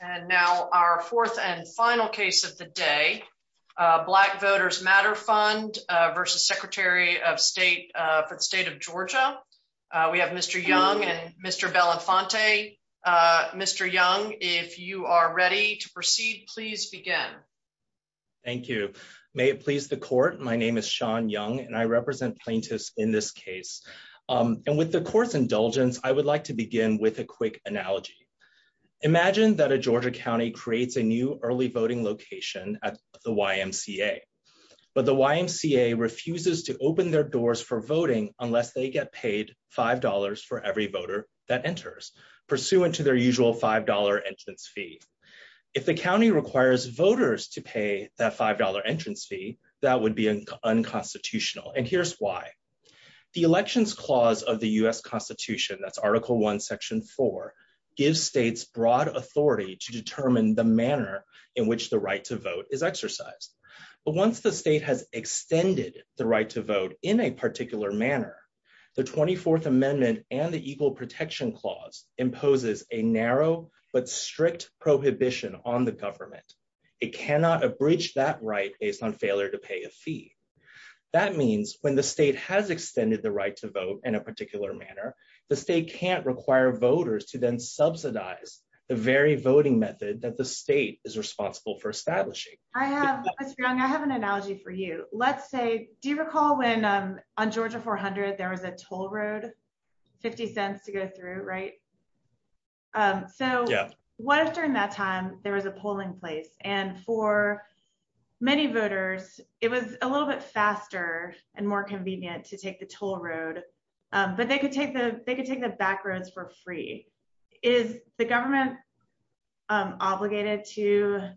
And now our fourth and final case of the day, Black Voters Matter Fund v. Secretary of State for the State of Georgia. We have Mr. Young and Mr. Belenfante. Mr. Young, if you are ready to proceed, please begin. Thank you. May it please the court, my name is Sean Young and I represent plaintiffs in this case. And with the court's indulgence, I would like to begin with a quick analogy. Imagine that a Georgia county creates a new early voting location at the YMCA. But the YMCA refuses to open their doors for voting unless they get paid $5 for every voter that enters, pursuant to their usual $5 entrance fee. If the county requires voters to pay that $5 entrance fee, that would be unconstitutional. And here's why. The Elections Clause of the U.S. Constitution, that's Article I, Section 4, gives states broad authority to determine the manner in which the right to vote is exercised. But once the state has extended the right to vote in a particular manner, the 24th Amendment and the Equal Protection Clause imposes a narrow but strict prohibition on the government. It cannot abridge that right based on failure to pay a fee. That means when the state has extended the right to vote in a particular manner, the state can't require voters to then subsidize the very voting method that the state is responsible for establishing. I have, Mr. Young, I have an analogy for you. Let's say, do you recall when on Georgia 400 there was a toll road, 50 cents to go through, right? So what if during that time there was a polling place and for many voters it was a little bit faster and more convenient to take the toll road, but they could take the back roads for free. Is the government obligated to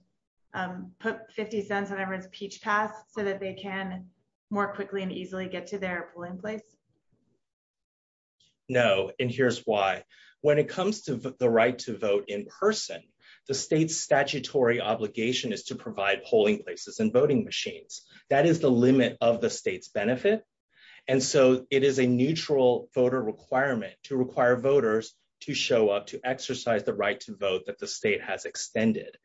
put 50 cents on everyone's peach pass so that they can more quickly and easily get to their polling place? No, and here's why. When it comes to the right to vote in person, the state's statutory obligation is to provide polling places and voting machines. That is the limit of the state's benefit. And so it is a neutral voter requirement to require voters to show up to exercise the right to vote that the state has extended.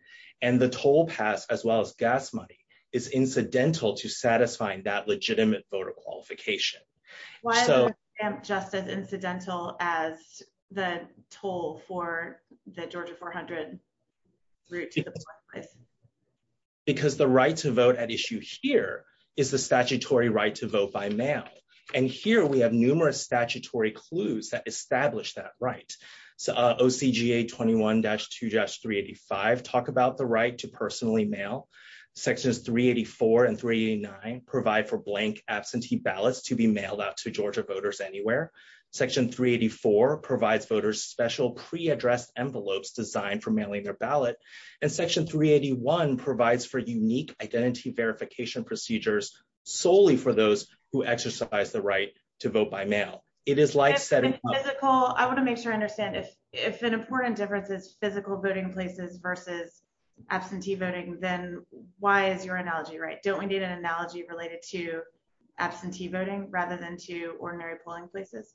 And the toll pass, as well as gas money, is incidental to satisfying that legitimate voter qualification. Why is that just as incidental as the toll for the Georgia 400 route to the polling place? Because the right to vote at issue here is the statutory right to judge 385, talk about the right to personally mail. Sections 384 and 389 provide for blank absentee ballots to be mailed out to Georgia voters anywhere. Section 384 provides voters special pre-addressed envelopes designed for mailing their ballot. And section 381 provides for unique identity verification procedures solely for those who exercise the right to vote by mail. It is like setting a goal. I want to make sure I understand if an important difference is physical voting places versus absentee voting, then why is your analogy right? Don't we need an analogy related to absentee voting rather than to ordinary polling places?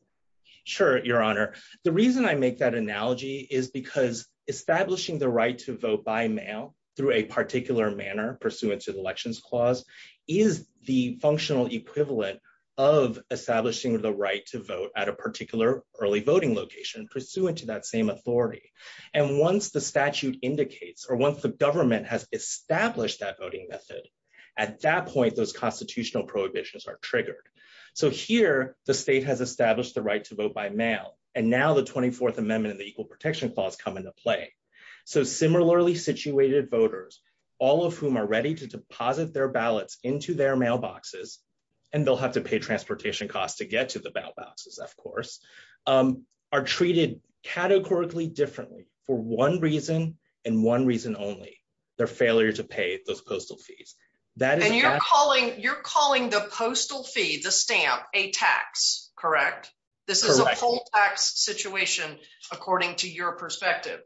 Sure, your honor. The reason I make that analogy is because establishing the right to vote by mail through a particular manner pursuant to the elections clause is the functional equivalent of establishing the right to vote at a particular early voting location pursuant to that same authority. And once the statute indicates or once the government has established that voting method, at that point, those constitutional prohibitions are triggered. So here, the state has established the right to vote by mail, and now the 24th Amendment and the Equal Protection Clause come into play. So similarly situated voters, all of whom are ready to deposit their ballots into their mailboxes, and they'll have to pay transportation costs to get to the mailboxes, of course, are treated categorically differently for one reason and one reason only, their failure to pay those postal fees. And you're calling the postal fee, the stamp, a tax, correct? This is a poll tax situation according to your perspective.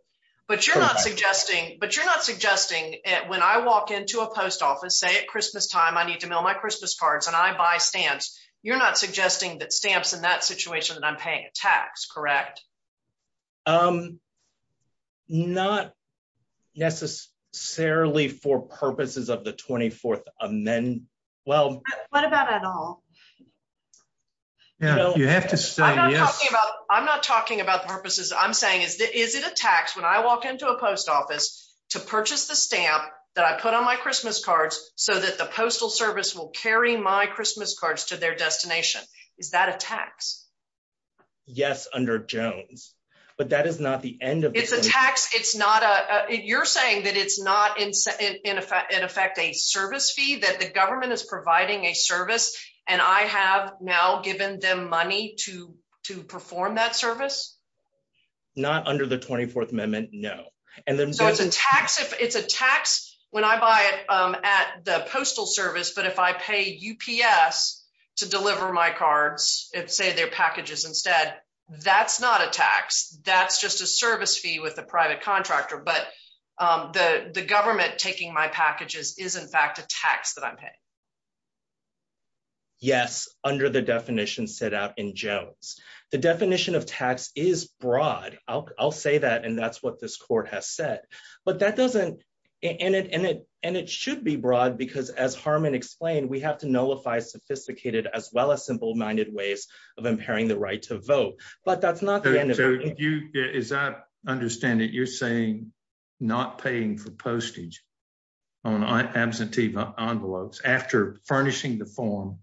But you're not suggesting, but you're not suggesting it when I walk into a post office, say at Christmas time, I need to mail my Christmas cards and I buy stamps. You're not suggesting that stamps in that situation that I'm paying a tax, correct? Um, not necessarily for purposes of the 24th Amendment. Well, what about at all? Yeah, you have to say yes. I'm not talking about purposes. I'm saying is it a tax when I walk into a post office to purchase the stamp that I put on my Christmas cards so that the postal service will carry my Christmas cards to their destination? Is that a tax? Yes, under Jones, but that is not the end of it. It's a tax. It's not a, you're saying that it's not in effect a service fee, that the government is providing a service and I have now given them money to perform that service? Not under the 24th Amendment, no. So it's a tax when I buy it at the postal service, but if I pay UPS to deliver my cards, say their packages instead, that's not a tax. That's just a service fee with a private contractor, but the government taking my packages is in fact a tax that I'm paying. Yes, under the definition set out in Jones. The definition of tax is broad. I'll say that and that's what this court has said, but that doesn't, and it should be broad because as Harmon explained, we have to nullify sophisticated as well as simple-minded ways of impairing the right to vote, but that's not the end of it. So you, as I understand it, you're saying not paying for postage on absentee envelopes after furnishing the form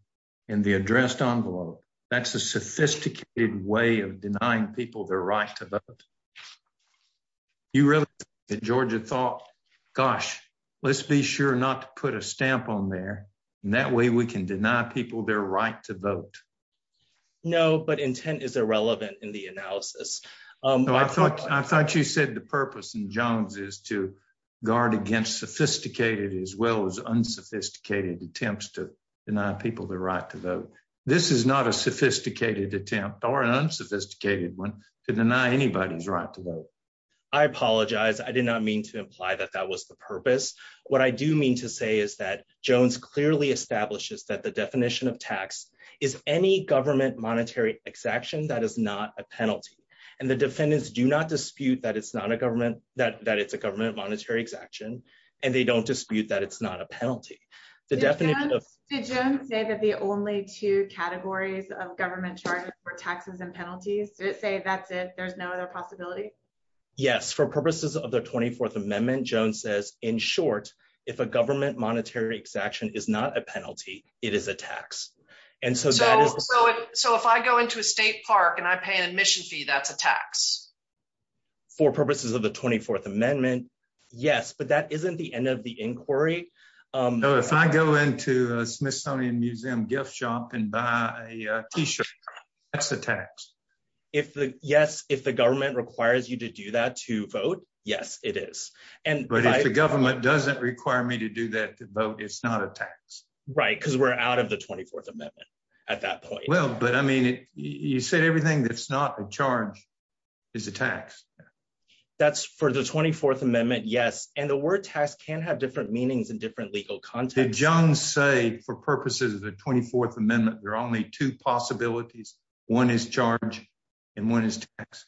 in the addressed envelope, that's a sophisticated way of denying people their right to vote. You really, Georgia thought, gosh, let's be sure not to put a stamp on there and that way we can deny people their right to vote. No, but intent is irrelevant in the analysis. I thought you said the purpose in Jones is to guard against sophisticated as well as unsophisticated attempts to deny people the right to vote. This is not a sophisticated attempt or an unsophisticated one to deny anybody's right to vote. I apologize. I did not mean to imply that that was the purpose. What I do mean to say is that Jones clearly establishes that the definition of tax is any government monetary exaction that is not a penalty and the defendants do not dispute that it's a government monetary exaction and they don't dispute that it's not a penalty. Did Jones say that the only two categories of government charges for taxes and penalties, did it say that's it, there's no other possibility? Yes, for purposes of the 24th Amendment, Jones says in short, if a government monetary exaction is not a penalty, it is a tax. So if I go into a state park and I pay an admission fee, that's a tax? For purposes of the 24th Amendment, yes, but that isn't the end of the inquiry. If I go into a Smithsonian Museum gift shop and buy a t-shirt, that's a tax. Yes, if the government requires you to do that to vote, yes, it is. But if the government doesn't require me to do that to vote, it's not a tax. Right, because we're out of the 24th Amendment at that point. Well, but I mean, you said everything that's not a charge is a tax. That's for the 24th Amendment, yes, and the word tax can have different meanings in different legal contexts. Did Jones say for purposes of the 24th Amendment, there are only two possibilities, one is charge and one is tax?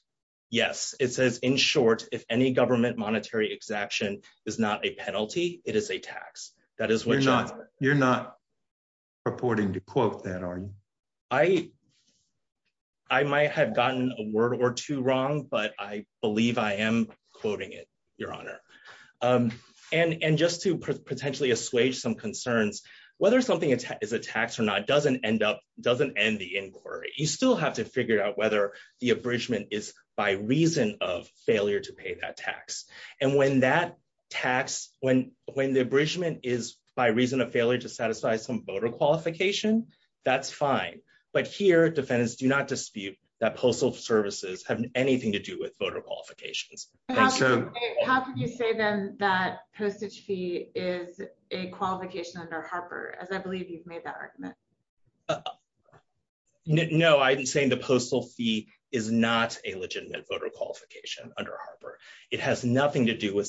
Yes, it says in short, if any government monetary exaction is not a penalty, it is a tax. You're not purporting to quote that, are you? I might have gotten a word or two wrong, but I believe I am quoting it, Your Honor. And just to potentially assuage some concerns, whether something is a tax or not doesn't end up, you still have to figure out whether the abridgment is by reason of failure to pay that tax. And when that tax, when the abridgment is by reason of failure to satisfy some voter qualification, that's fine. But here, defendants do not dispute that postal services have anything to do with voter qualifications. How could you say then that postage fee is a qualification under Harper, as I believe you've made that argument? No, I'm saying the postal fee is not a legitimate voter qualification under Harper. It has nothing to do with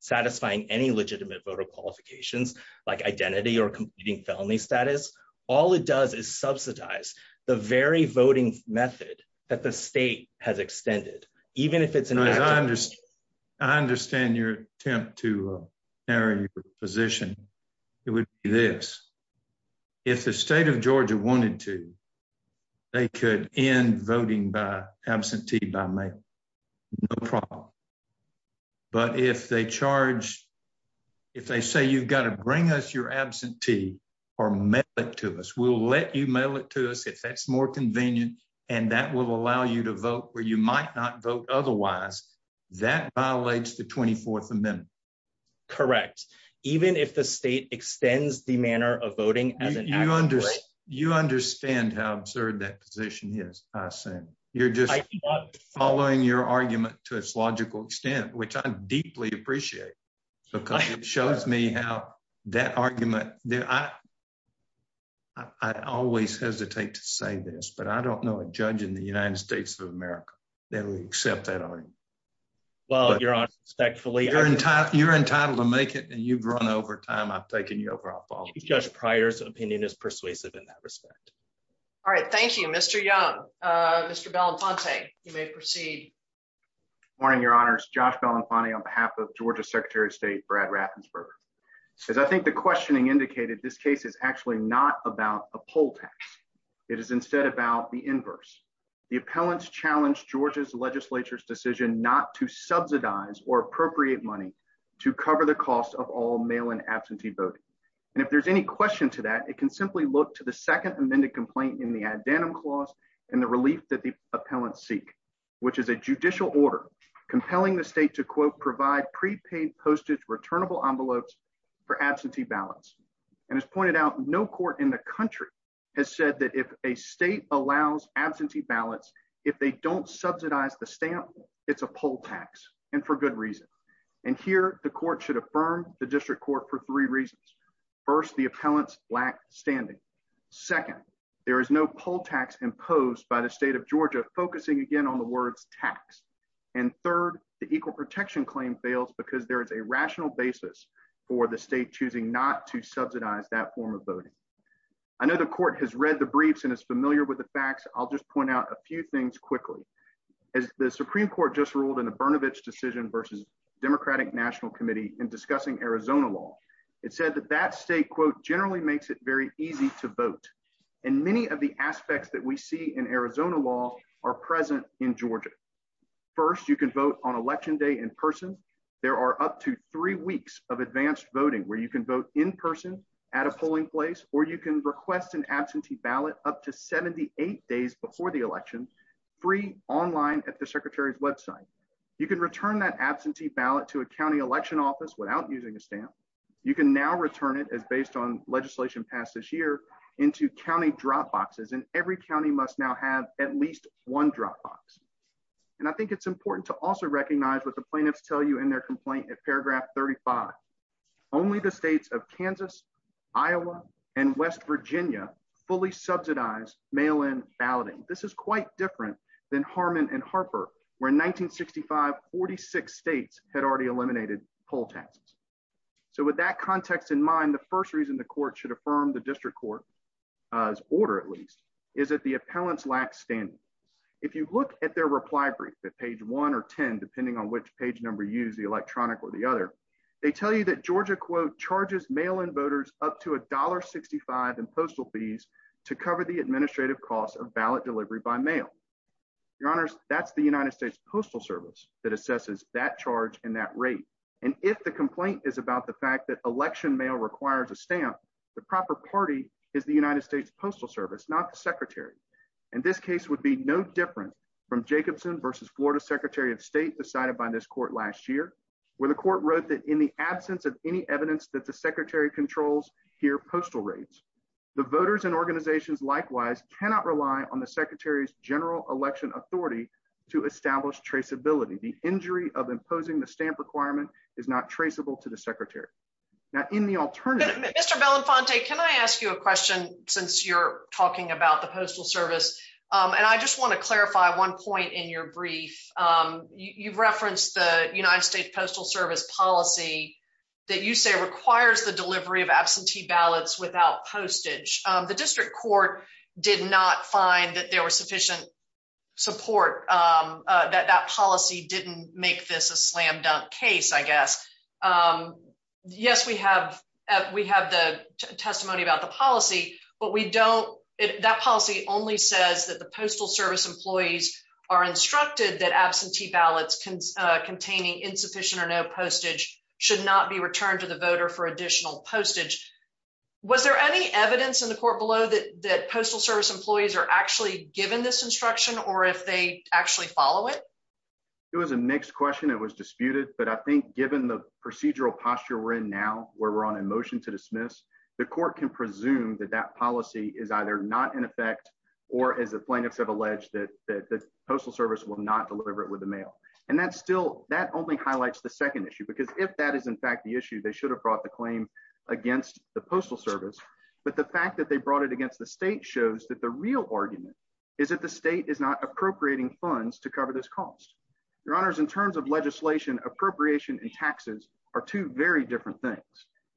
satisfying any legitimate voter qualifications, like identity or competing felony status. All it does is subsidize the very voting method that the state has extended, even if it's an- I understand your attempt to position. It would be this. If the state of Georgia wanted to, they could end voting by absentee by mail. No problem. But if they charge, if they say you've got to bring us your absentee or mail it to us, we'll let you mail it to us if that's more convenient. And that will allow you to vote where you might not vote otherwise. That violates the 24th Amendment. Correct. Even if the state extends the manner of voting- You understand how absurd that position is, I assume. You're just following your argument to its logical extent, which I deeply appreciate, because it shows me how that argument- I always hesitate to say this, but I don't know a judge in the United States of America that would accept that argument. Well, Your Honor, respectfully- You're entitled to make it, and you've run over time. I've taken you over. I apologize. Judge Pryor's opinion is persuasive in that respect. All right. Thank you, Mr. Young. Mr. Belenfante, you may proceed. Good morning, Your Honors. Josh Belenfante on behalf of Georgia Secretary of State Brad Raffensperger. As I think the questioning indicated, this case is actually not about a poll tax. It is instead about the inverse. The appellants challenged Georgia's legislature's decision not to subsidize or appropriate money to cover the cost of all mail-in absentee voting. And if there's any question to that, it can simply look to the second amended complaint in the addendum clause and the relief that the appellants seek, which is a judicial order compelling the state to, quote, provide prepaid postage returnable envelopes for absentee ballots. And as pointed out, no court in the country has said that if a state allows absentee ballots, if they don't subsidize the stamp, it's a poll tax, and for good reason. And here, the court should affirm the district court for three reasons. First, the appellants lack standing. Second, there is no poll tax imposed by the state of Georgia, focusing again on the words tax. And third, the equal protection claim fails because there is a rational basis for the state choosing not to subsidize that form of voting. I know the court has read the briefs and is familiar with the facts. I'll just point out a few things quickly. As the Supreme Court just ruled in the Brnovich decision versus Democratic National Committee in discussing Arizona law, it said that that state, quote, generally makes it very easy to vote. And many of the aspects that we see in Arizona law are present in Georgia. First, you can vote on where you can vote in person at a polling place, or you can request an absentee ballot up to 78 days before the election, free online at the secretary's website. You can return that absentee ballot to a county election office without using a stamp. You can now return it as based on legislation passed this year into county drop boxes, and every county must now have at least one drop box. And I think it's important to also recognize what the plaintiffs tell you in their 35. Only the states of Kansas, Iowa, and West Virginia fully subsidize mail-in balloting. This is quite different than Harmon and Harper, where in 1965, 46 states had already eliminated poll taxes. So with that context in mind, the first reason the court should affirm the district court's order, at least, is that the appellants lack standing. If you look at their reply brief at page 1 or 10, depending on which page number you use, the electronic or the other, they tell you that Georgia, quote, charges mail-in voters up to $1.65 in postal fees to cover the administrative costs of ballot delivery by mail. Your honors, that's the United States Postal Service that assesses that charge and that rate. And if the complaint is about the fact that election mail requires a stamp, the proper party is the United States Postal Service, not the secretary. And this case would be no different from Jacobson v. Florida Secretary of State decided by this court last year, where the court wrote that in the absence of any evidence that the secretary controls here postal rates, the voters and organizations likewise cannot rely on the secretary's general election authority to establish traceability. The injury of imposing the stamp requirement is not traceable to the secretary. Now in the alternative... Mr. Belenfante, can I ask you a question? I just want to clarify one point in your brief. You've referenced the United States Postal Service policy that you say requires the delivery of absentee ballots without postage. The district court did not find that there was sufficient support, that that policy didn't make this a slam-dunk case, I guess. Yes, we have the testimony about the policy, but we don't... The court has said that the postal service employees are instructed that absentee ballots containing insufficient or no postage should not be returned to the voter for additional postage. Was there any evidence in the court below that that postal service employees are actually given this instruction, or if they actually follow it? It was a mixed question, it was disputed, but I think given the procedural posture we're in now, where we're on a motion to dismiss, the court can presume that that policy is either not in effect or, as the plaintiffs have alleged, that the postal service will not deliver it with the mail. And that's still... that only highlights the second issue, because if that is in fact the issue, they should have brought the claim against the postal service, but the fact that they brought it against the state shows that the real argument is that the state is not appropriating funds to cover this cost. Your honors, in terms of legislation, appropriation and taxes are two very different things,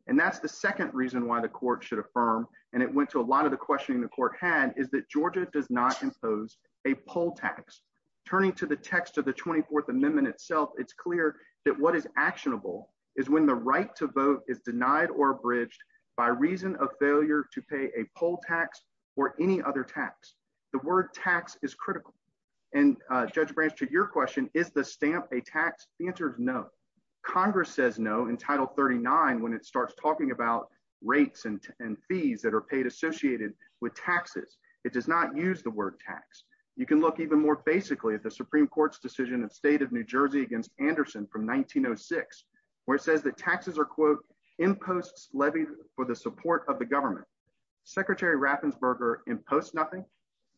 and that's the second reason why the court should affirm, and it went to a lot of the questioning the court had, is that Georgia does not impose a poll tax. Turning to the text of the 24th Amendment itself, it's clear that what is actionable is when the right to vote is denied or abridged by reason of failure to pay a poll tax or any other tax. The word tax is critical, and Judge Branch, to your question, is the stamp a tax? The answer is no. Congress says no in Title 39 when it starts talking about rates and fees that are paid associated with taxes. It does not use the word tax. You can look even more basically at the Supreme Court's decision in the state of New Jersey against Anderson from 1906, where it says that taxes are, quote, imposts levied for the support of the government. Secretary Raffensperger imposts nothing,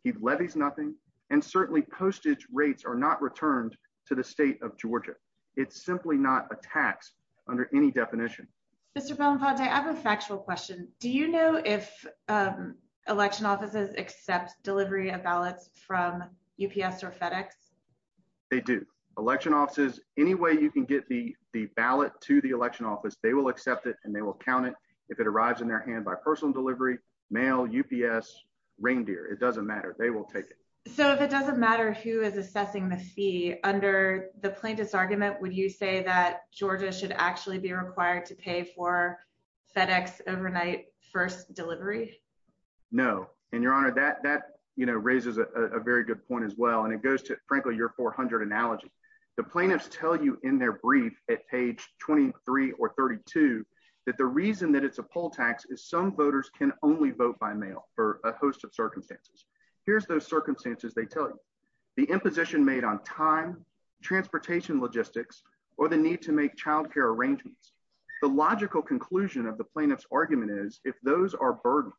he levies nothing, and certainly postage rates are not returned to the state of Georgia. It's simply not a tax under any definition. Mr. Belamponte, I have a factual question. Do you know if election offices accept delivery of ballots from UPS or FedEx? They do. Election offices, any way you can get the ballot to the election office, they will accept it and they will count it if it arrives in their hand by personal delivery, mail, UPS, reindeer, it doesn't matter, they will take it. So if it doesn't matter who is assessing the fee, under the plaintiff's argument, would you say that Georgia should actually be required to pay for FedEx overnight first delivery? No, and your honor, that, you know, raises a very good point as well, and it goes to, frankly, your 400 analogy. The plaintiffs tell you in their brief at page 23 or 32 that the reason that it's a poll tax is some voters can only vote by mail for a host of circumstances. Here's those circumstances they tell you. The imposition made on time, transportation logistics, or the need to make child care arrangements. The logical conclusion of the plaintiff's argument is if those are burdens,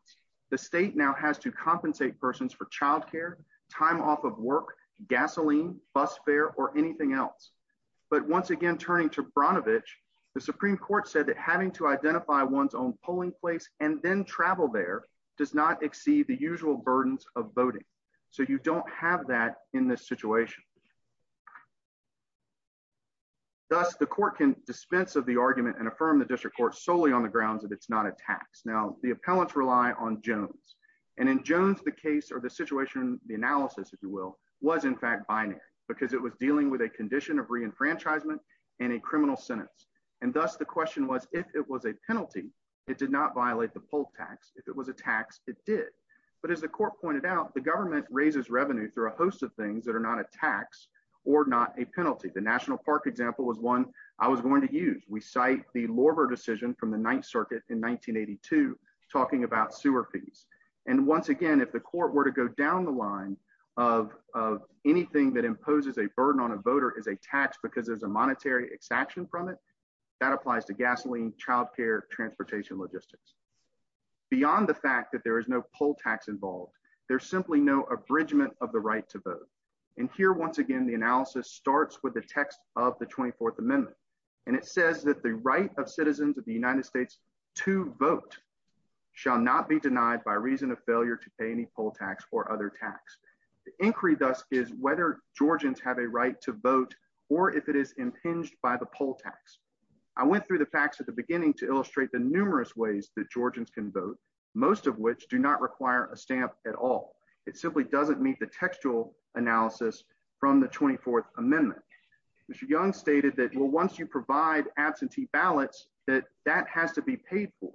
the state now has to compensate persons for child care, time off of work, gasoline, bus fare, or anything else. But once again, turning to Branovich, the Supreme Court said that having to identify one's own polling place and then travel there does not exceed the usual burdens of voting. So you don't have that in this situation. Thus, the court can dispense of the argument and affirm the district court solely on the grounds that it's not a tax. Now, the appellants rely on Jones. And in Jones, the case or the situation, the analysis, if you will, was in fact binary, because it was dealing with a condition of reenfranchisement and a criminal sentence. And thus, the question was, if it was a penalty, it did not violate the poll tax. If it was a tax, it did. But as the court pointed out, the government raises revenue through a host of things that are not a tax or not a penalty. The National Park example was one I was going to use. We cite the Lorver decision from the Ninth Circuit in 1982, talking about sewer fees. And once again, if the court were to go down the line of anything that imposes a burden on a voter as a tax because there's a monetary extraction from it, that applies to gasoline, child care, transportation, logistics. Beyond the fact that there is no poll tax involved, there's simply no abridgment of the right to vote. And here, once again, the analysis starts with the text of the 24th Amendment. And it says that the right of citizens of the United States to vote shall not be denied by reason of failure to pay any poll tax or other tax. The inquiry, thus, is whether Georgians have a right to vote, or if it is a poll tax. I went through the facts at the beginning to illustrate the numerous ways that Georgians can vote, most of which do not require a stamp at all. It simply doesn't meet the textual analysis from the 24th Amendment. Mr. Young stated that, well, once you provide absentee ballots, that that has to be paid for.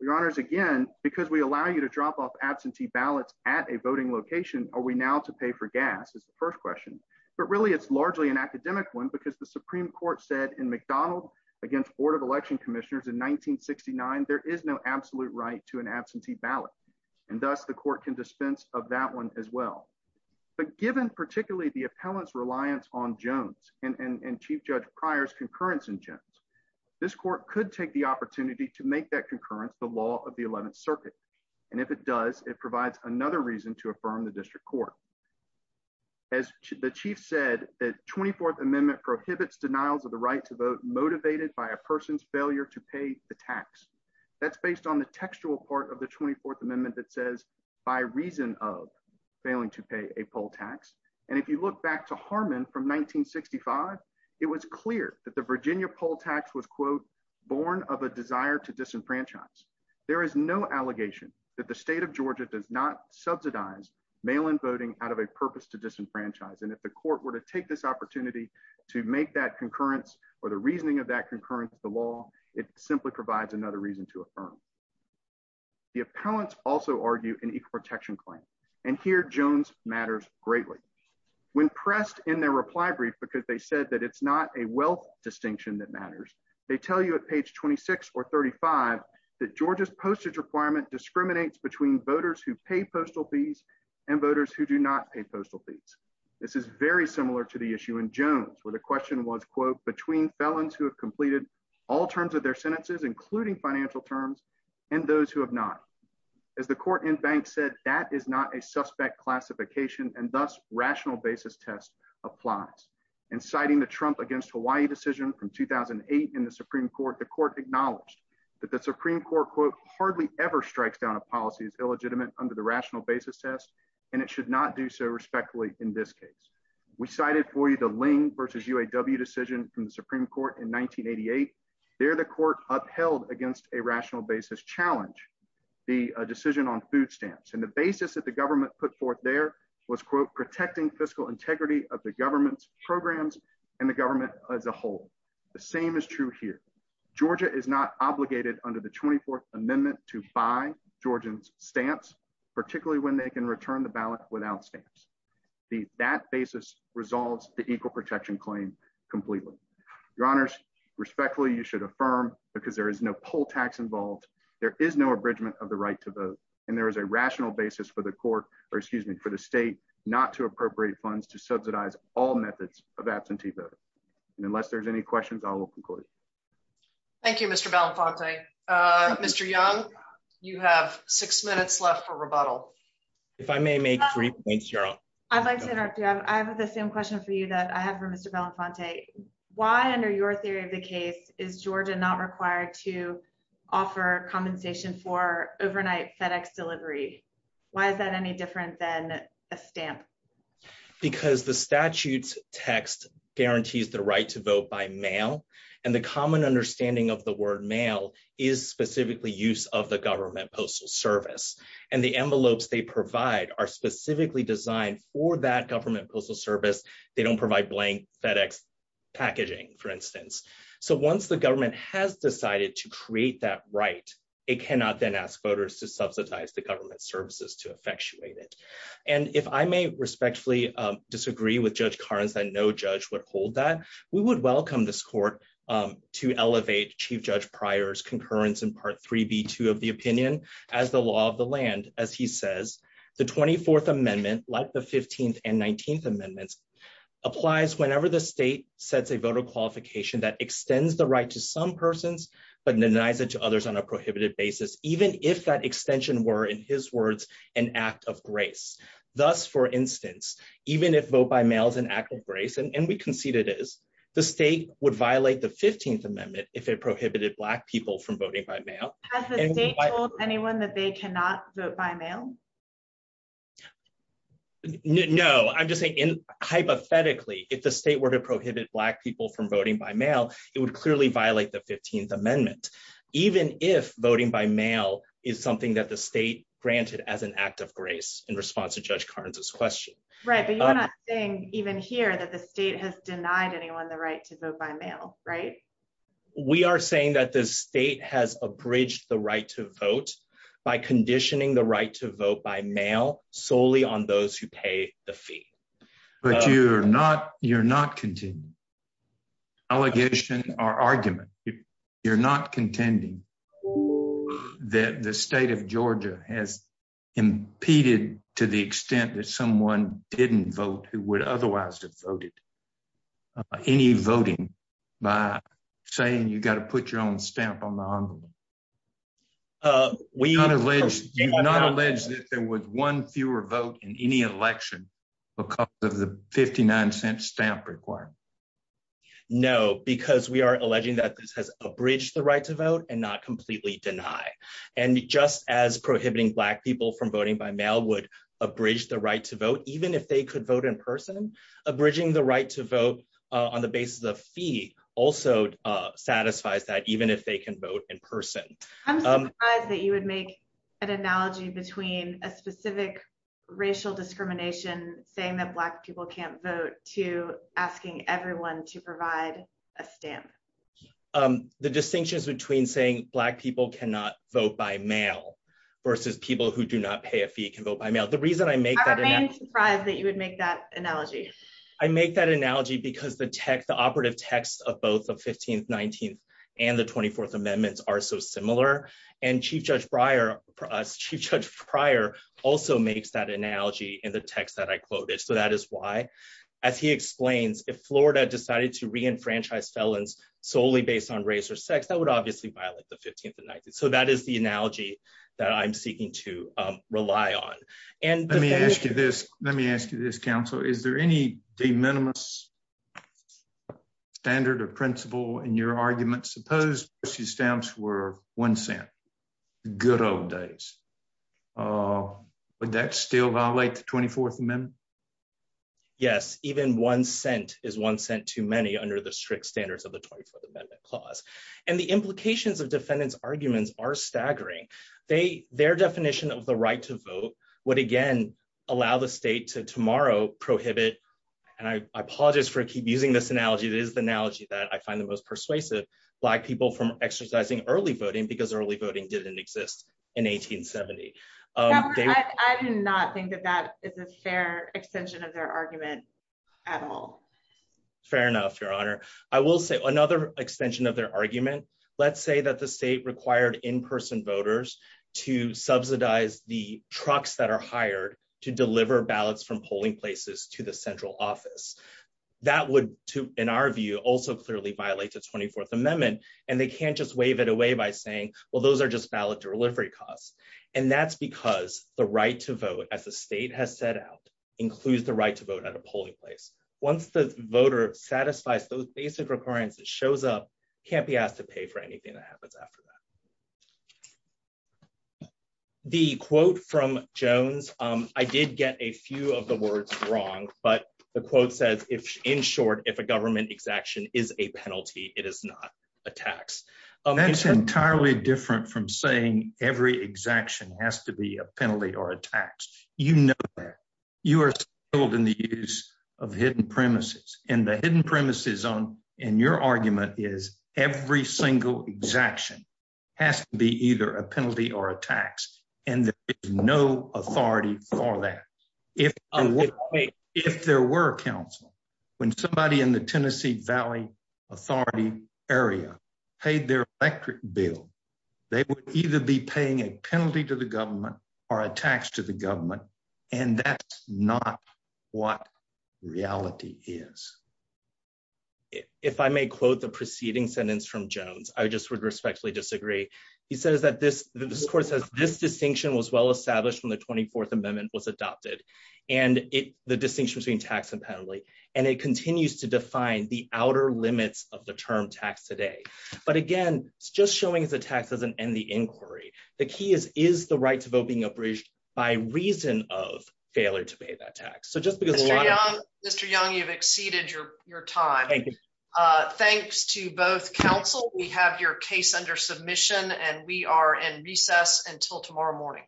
Your Honors, again, because we allow you to drop off absentee ballots at a voting location, are we now to pay for gas is the first question. But really, it's largely an academic one, because the Supreme Court said in McDonald against Board of Election Commissioners in 1969, there is no absolute right to an absentee ballot. And thus the court can dispense of that one as well. But given particularly the appellant's reliance on Jones and Chief Judge Pryor's concurrence in Jones, this court could take the opportunity to make that concurrence the law of the 11th Circuit. And if it does, it provides another reason to affirm the district court. As the Chief said, the 24th Amendment prohibits denials of the right to vote motivated by a person's failure to pay the tax. That's based on the textual part of the 24th Amendment that says, by reason of failing to pay a poll tax. And if you look back to Harmon from 1965, it was clear that the Virginia poll tax was quote, born of a desire to disenfranchise. There is no mail-in voting out of a purpose to disenfranchise. And if the court were to take this opportunity to make that concurrence, or the reasoning of that concurrence, the law, it simply provides another reason to affirm. The appellants also argue an equal protection claim. And here Jones matters greatly. When pressed in their reply brief, because they said that it's not a wealth distinction that matters. They tell you at page 26, or 35, that Georgia's postage requirement discriminates between voters who pay postal fees, and voters who do not pay postal fees. This is very similar to the issue in Jones, where the question was, quote, between felons who have completed all terms of their sentences, including financial terms, and those who have not. As the court in bank said, that is not a suspect classification and thus rational basis test applies. And citing the Trump against Hawaii decision from 2008 in the Supreme Court, the court acknowledged that the Supreme Court, quote, hardly ever strikes down a policy as illegitimate under the rational basis test, and it should not do so respectfully in this case. We cited for you the Ling versus UAW decision from the Supreme Court in 1988. There the court upheld against a rational basis challenge, the decision on food stamps. And the basis that the government put forth there was, quote, protecting fiscal integrity of the government's programs and the government as a whole. The same is true here. Georgia is not obligated under the 24th amendment to buy Georgians stamps, particularly when they can return the ballot without stamps. That basis resolves the equal protection claim completely. Your honors, respectfully, you should affirm because there is no poll tax involved. There is no abridgment of the right to vote. And there is a rational basis for the court, or excuse me, for the state not to appropriate funds to subsidize all methods of absentee voting. And unless there's any questions, I will conclude. Thank you, Mr. Belafonte. Mr. Young, you have six minutes left for rebuttal. If I may make three points, Your Honor. I'd like to interrupt you. I have the same question for you that I have for Mr. Belafonte. Why, under your theory of the case, is Georgia not required to offer compensation for overnight FedEx delivery? Why is that any different than a stamp? Because the statute's text guarantees the right to vote by mail. And the common understanding of the word mail is specifically use of the government postal service. And the envelopes they provide are specifically designed for that government postal service. They don't provide blank FedEx packaging, for instance. So once the government has decided to create that right, it cannot then ask voters to subsidize the government services to effectuate it. And if I may respectfully disagree with Judge Karns that no judge would hold that, we would welcome this court to elevate Chief Judge Pryor's concurrence in Part 3B2 of the opinion as the law of the land. As he says, the 24th Amendment, like the 15th and 19th Amendments, applies whenever the state sets a voter qualification that extends the right to some persons but denies it to others on a prohibited basis, even if that extension were, in his words, an act of grace. Thus, for instance, even if vote by mail is an act of grace, and we concede it is, the state would violate the 15th Amendment if it prohibited Black people from voting by mail. Has the state told anyone that they cannot vote by mail? No, I'm just saying, hypothetically, if the state were to prohibit Black people from voting by mail, it would clearly violate the 15th Amendment, even if voting by mail is something that the state granted as an act of grace in response to Judge Karns' question. Right, but you're not saying, even here, that the state has denied anyone the right to vote by mail, right? We are saying that the state has abridged the right to vote by conditioning the right to vote by mail solely on those who pay the fee. But you're not contending, allegation or argument, you're not contending that the state of Georgia has impeded to the extent that someone didn't vote who would otherwise have voted any voting by saying, you've got to put your own stamp on the envelope. You've not alleged that there was one fewer vote in any election because of the stamp requirement. No, because we are alleging that this has abridged the right to vote and not completely deny. And just as prohibiting Black people from voting by mail would abridge the right to vote, even if they could vote in person, abridging the right to vote on the basis of fee also satisfies that even if they can vote in person. I'm surprised that you would make an analogy between a specific racial discrimination saying that Black people can't vote to asking everyone to provide a stamp. The distinctions between saying Black people cannot vote by mail versus people who do not pay a fee can vote by mail. The reason I make that. I'm surprised that you would make that analogy. I make that analogy because the text, the operative text of both the 15th, 19th, and the 24th amendments are so similar. And Chief Judge Pryor also makes that analogy in the text that I quoted. So that is why, as he explains, if Florida decided to re-enfranchise felons solely based on race or sex, that would obviously violate the 15th and 19th. So that is the analogy that I'm seeking to rely on. And let me ask you this. Let me ask you this, counsel. Is there any de minimis standard or principle in your argument? Suppose the stamps were one cent. Good old days. Would that still violate the 24th amendment? Yes, even one cent is one cent too many under the strict standards of the 24th amendment clause. And the implications of defendants' arguments are staggering. Their definition of the right to vote would again allow the state to prohibit, and I apologize for using this analogy. It is the analogy that I find the most persuasive, black people from exercising early voting because early voting didn't exist in 1870. I do not think that that is a fair extension of their argument at all. Fair enough, Your Honor. I will say another extension of their argument. Let's say that the state required in-person voters to subsidize the trucks that are hired to deliver ballots from polling places to the central office. That would, in our view, also clearly violate the 24th amendment. And they can't just wave it away by saying, well, those are just ballot delivery costs. And that's because the right to vote, as the state has set out, includes the right to vote at a polling place. Once the voter satisfies those basic requirements that shows up, can't be asked to pay for anything that happens after that. The quote from Jones, I did get a few of the words wrong, but the quote says, in short, if a government exaction is a penalty, it is not a tax. That's entirely different from saying every exaction has to be a penalty or a tax. You know that. You are skilled in the use of hidden premises. And the hidden premises in your argument is every single exaction has to be either a penalty or a tax. And there is no authority for that. If there were a council, when somebody in the Tennessee Valley Authority area paid their electric bill, they would either be paying a penalty to the government or a tax to the government. And that's not what reality is. If I may quote the preceding sentence from Jones, I just would respectfully disagree. He says that this court says this distinction was well established when the 24th Amendment was adopted. And the distinction between tax and penalty, and it continues to define the outer limits of the term tax today. But again, it's just showing as a tax doesn't end the inquiry. The key is, is the right to vote being abridged by reason of failure to pay that tax. So just because Mr. Young, you've exceeded your time. Thanks to both council, we have your case under submission and we are in recess until tomorrow morning.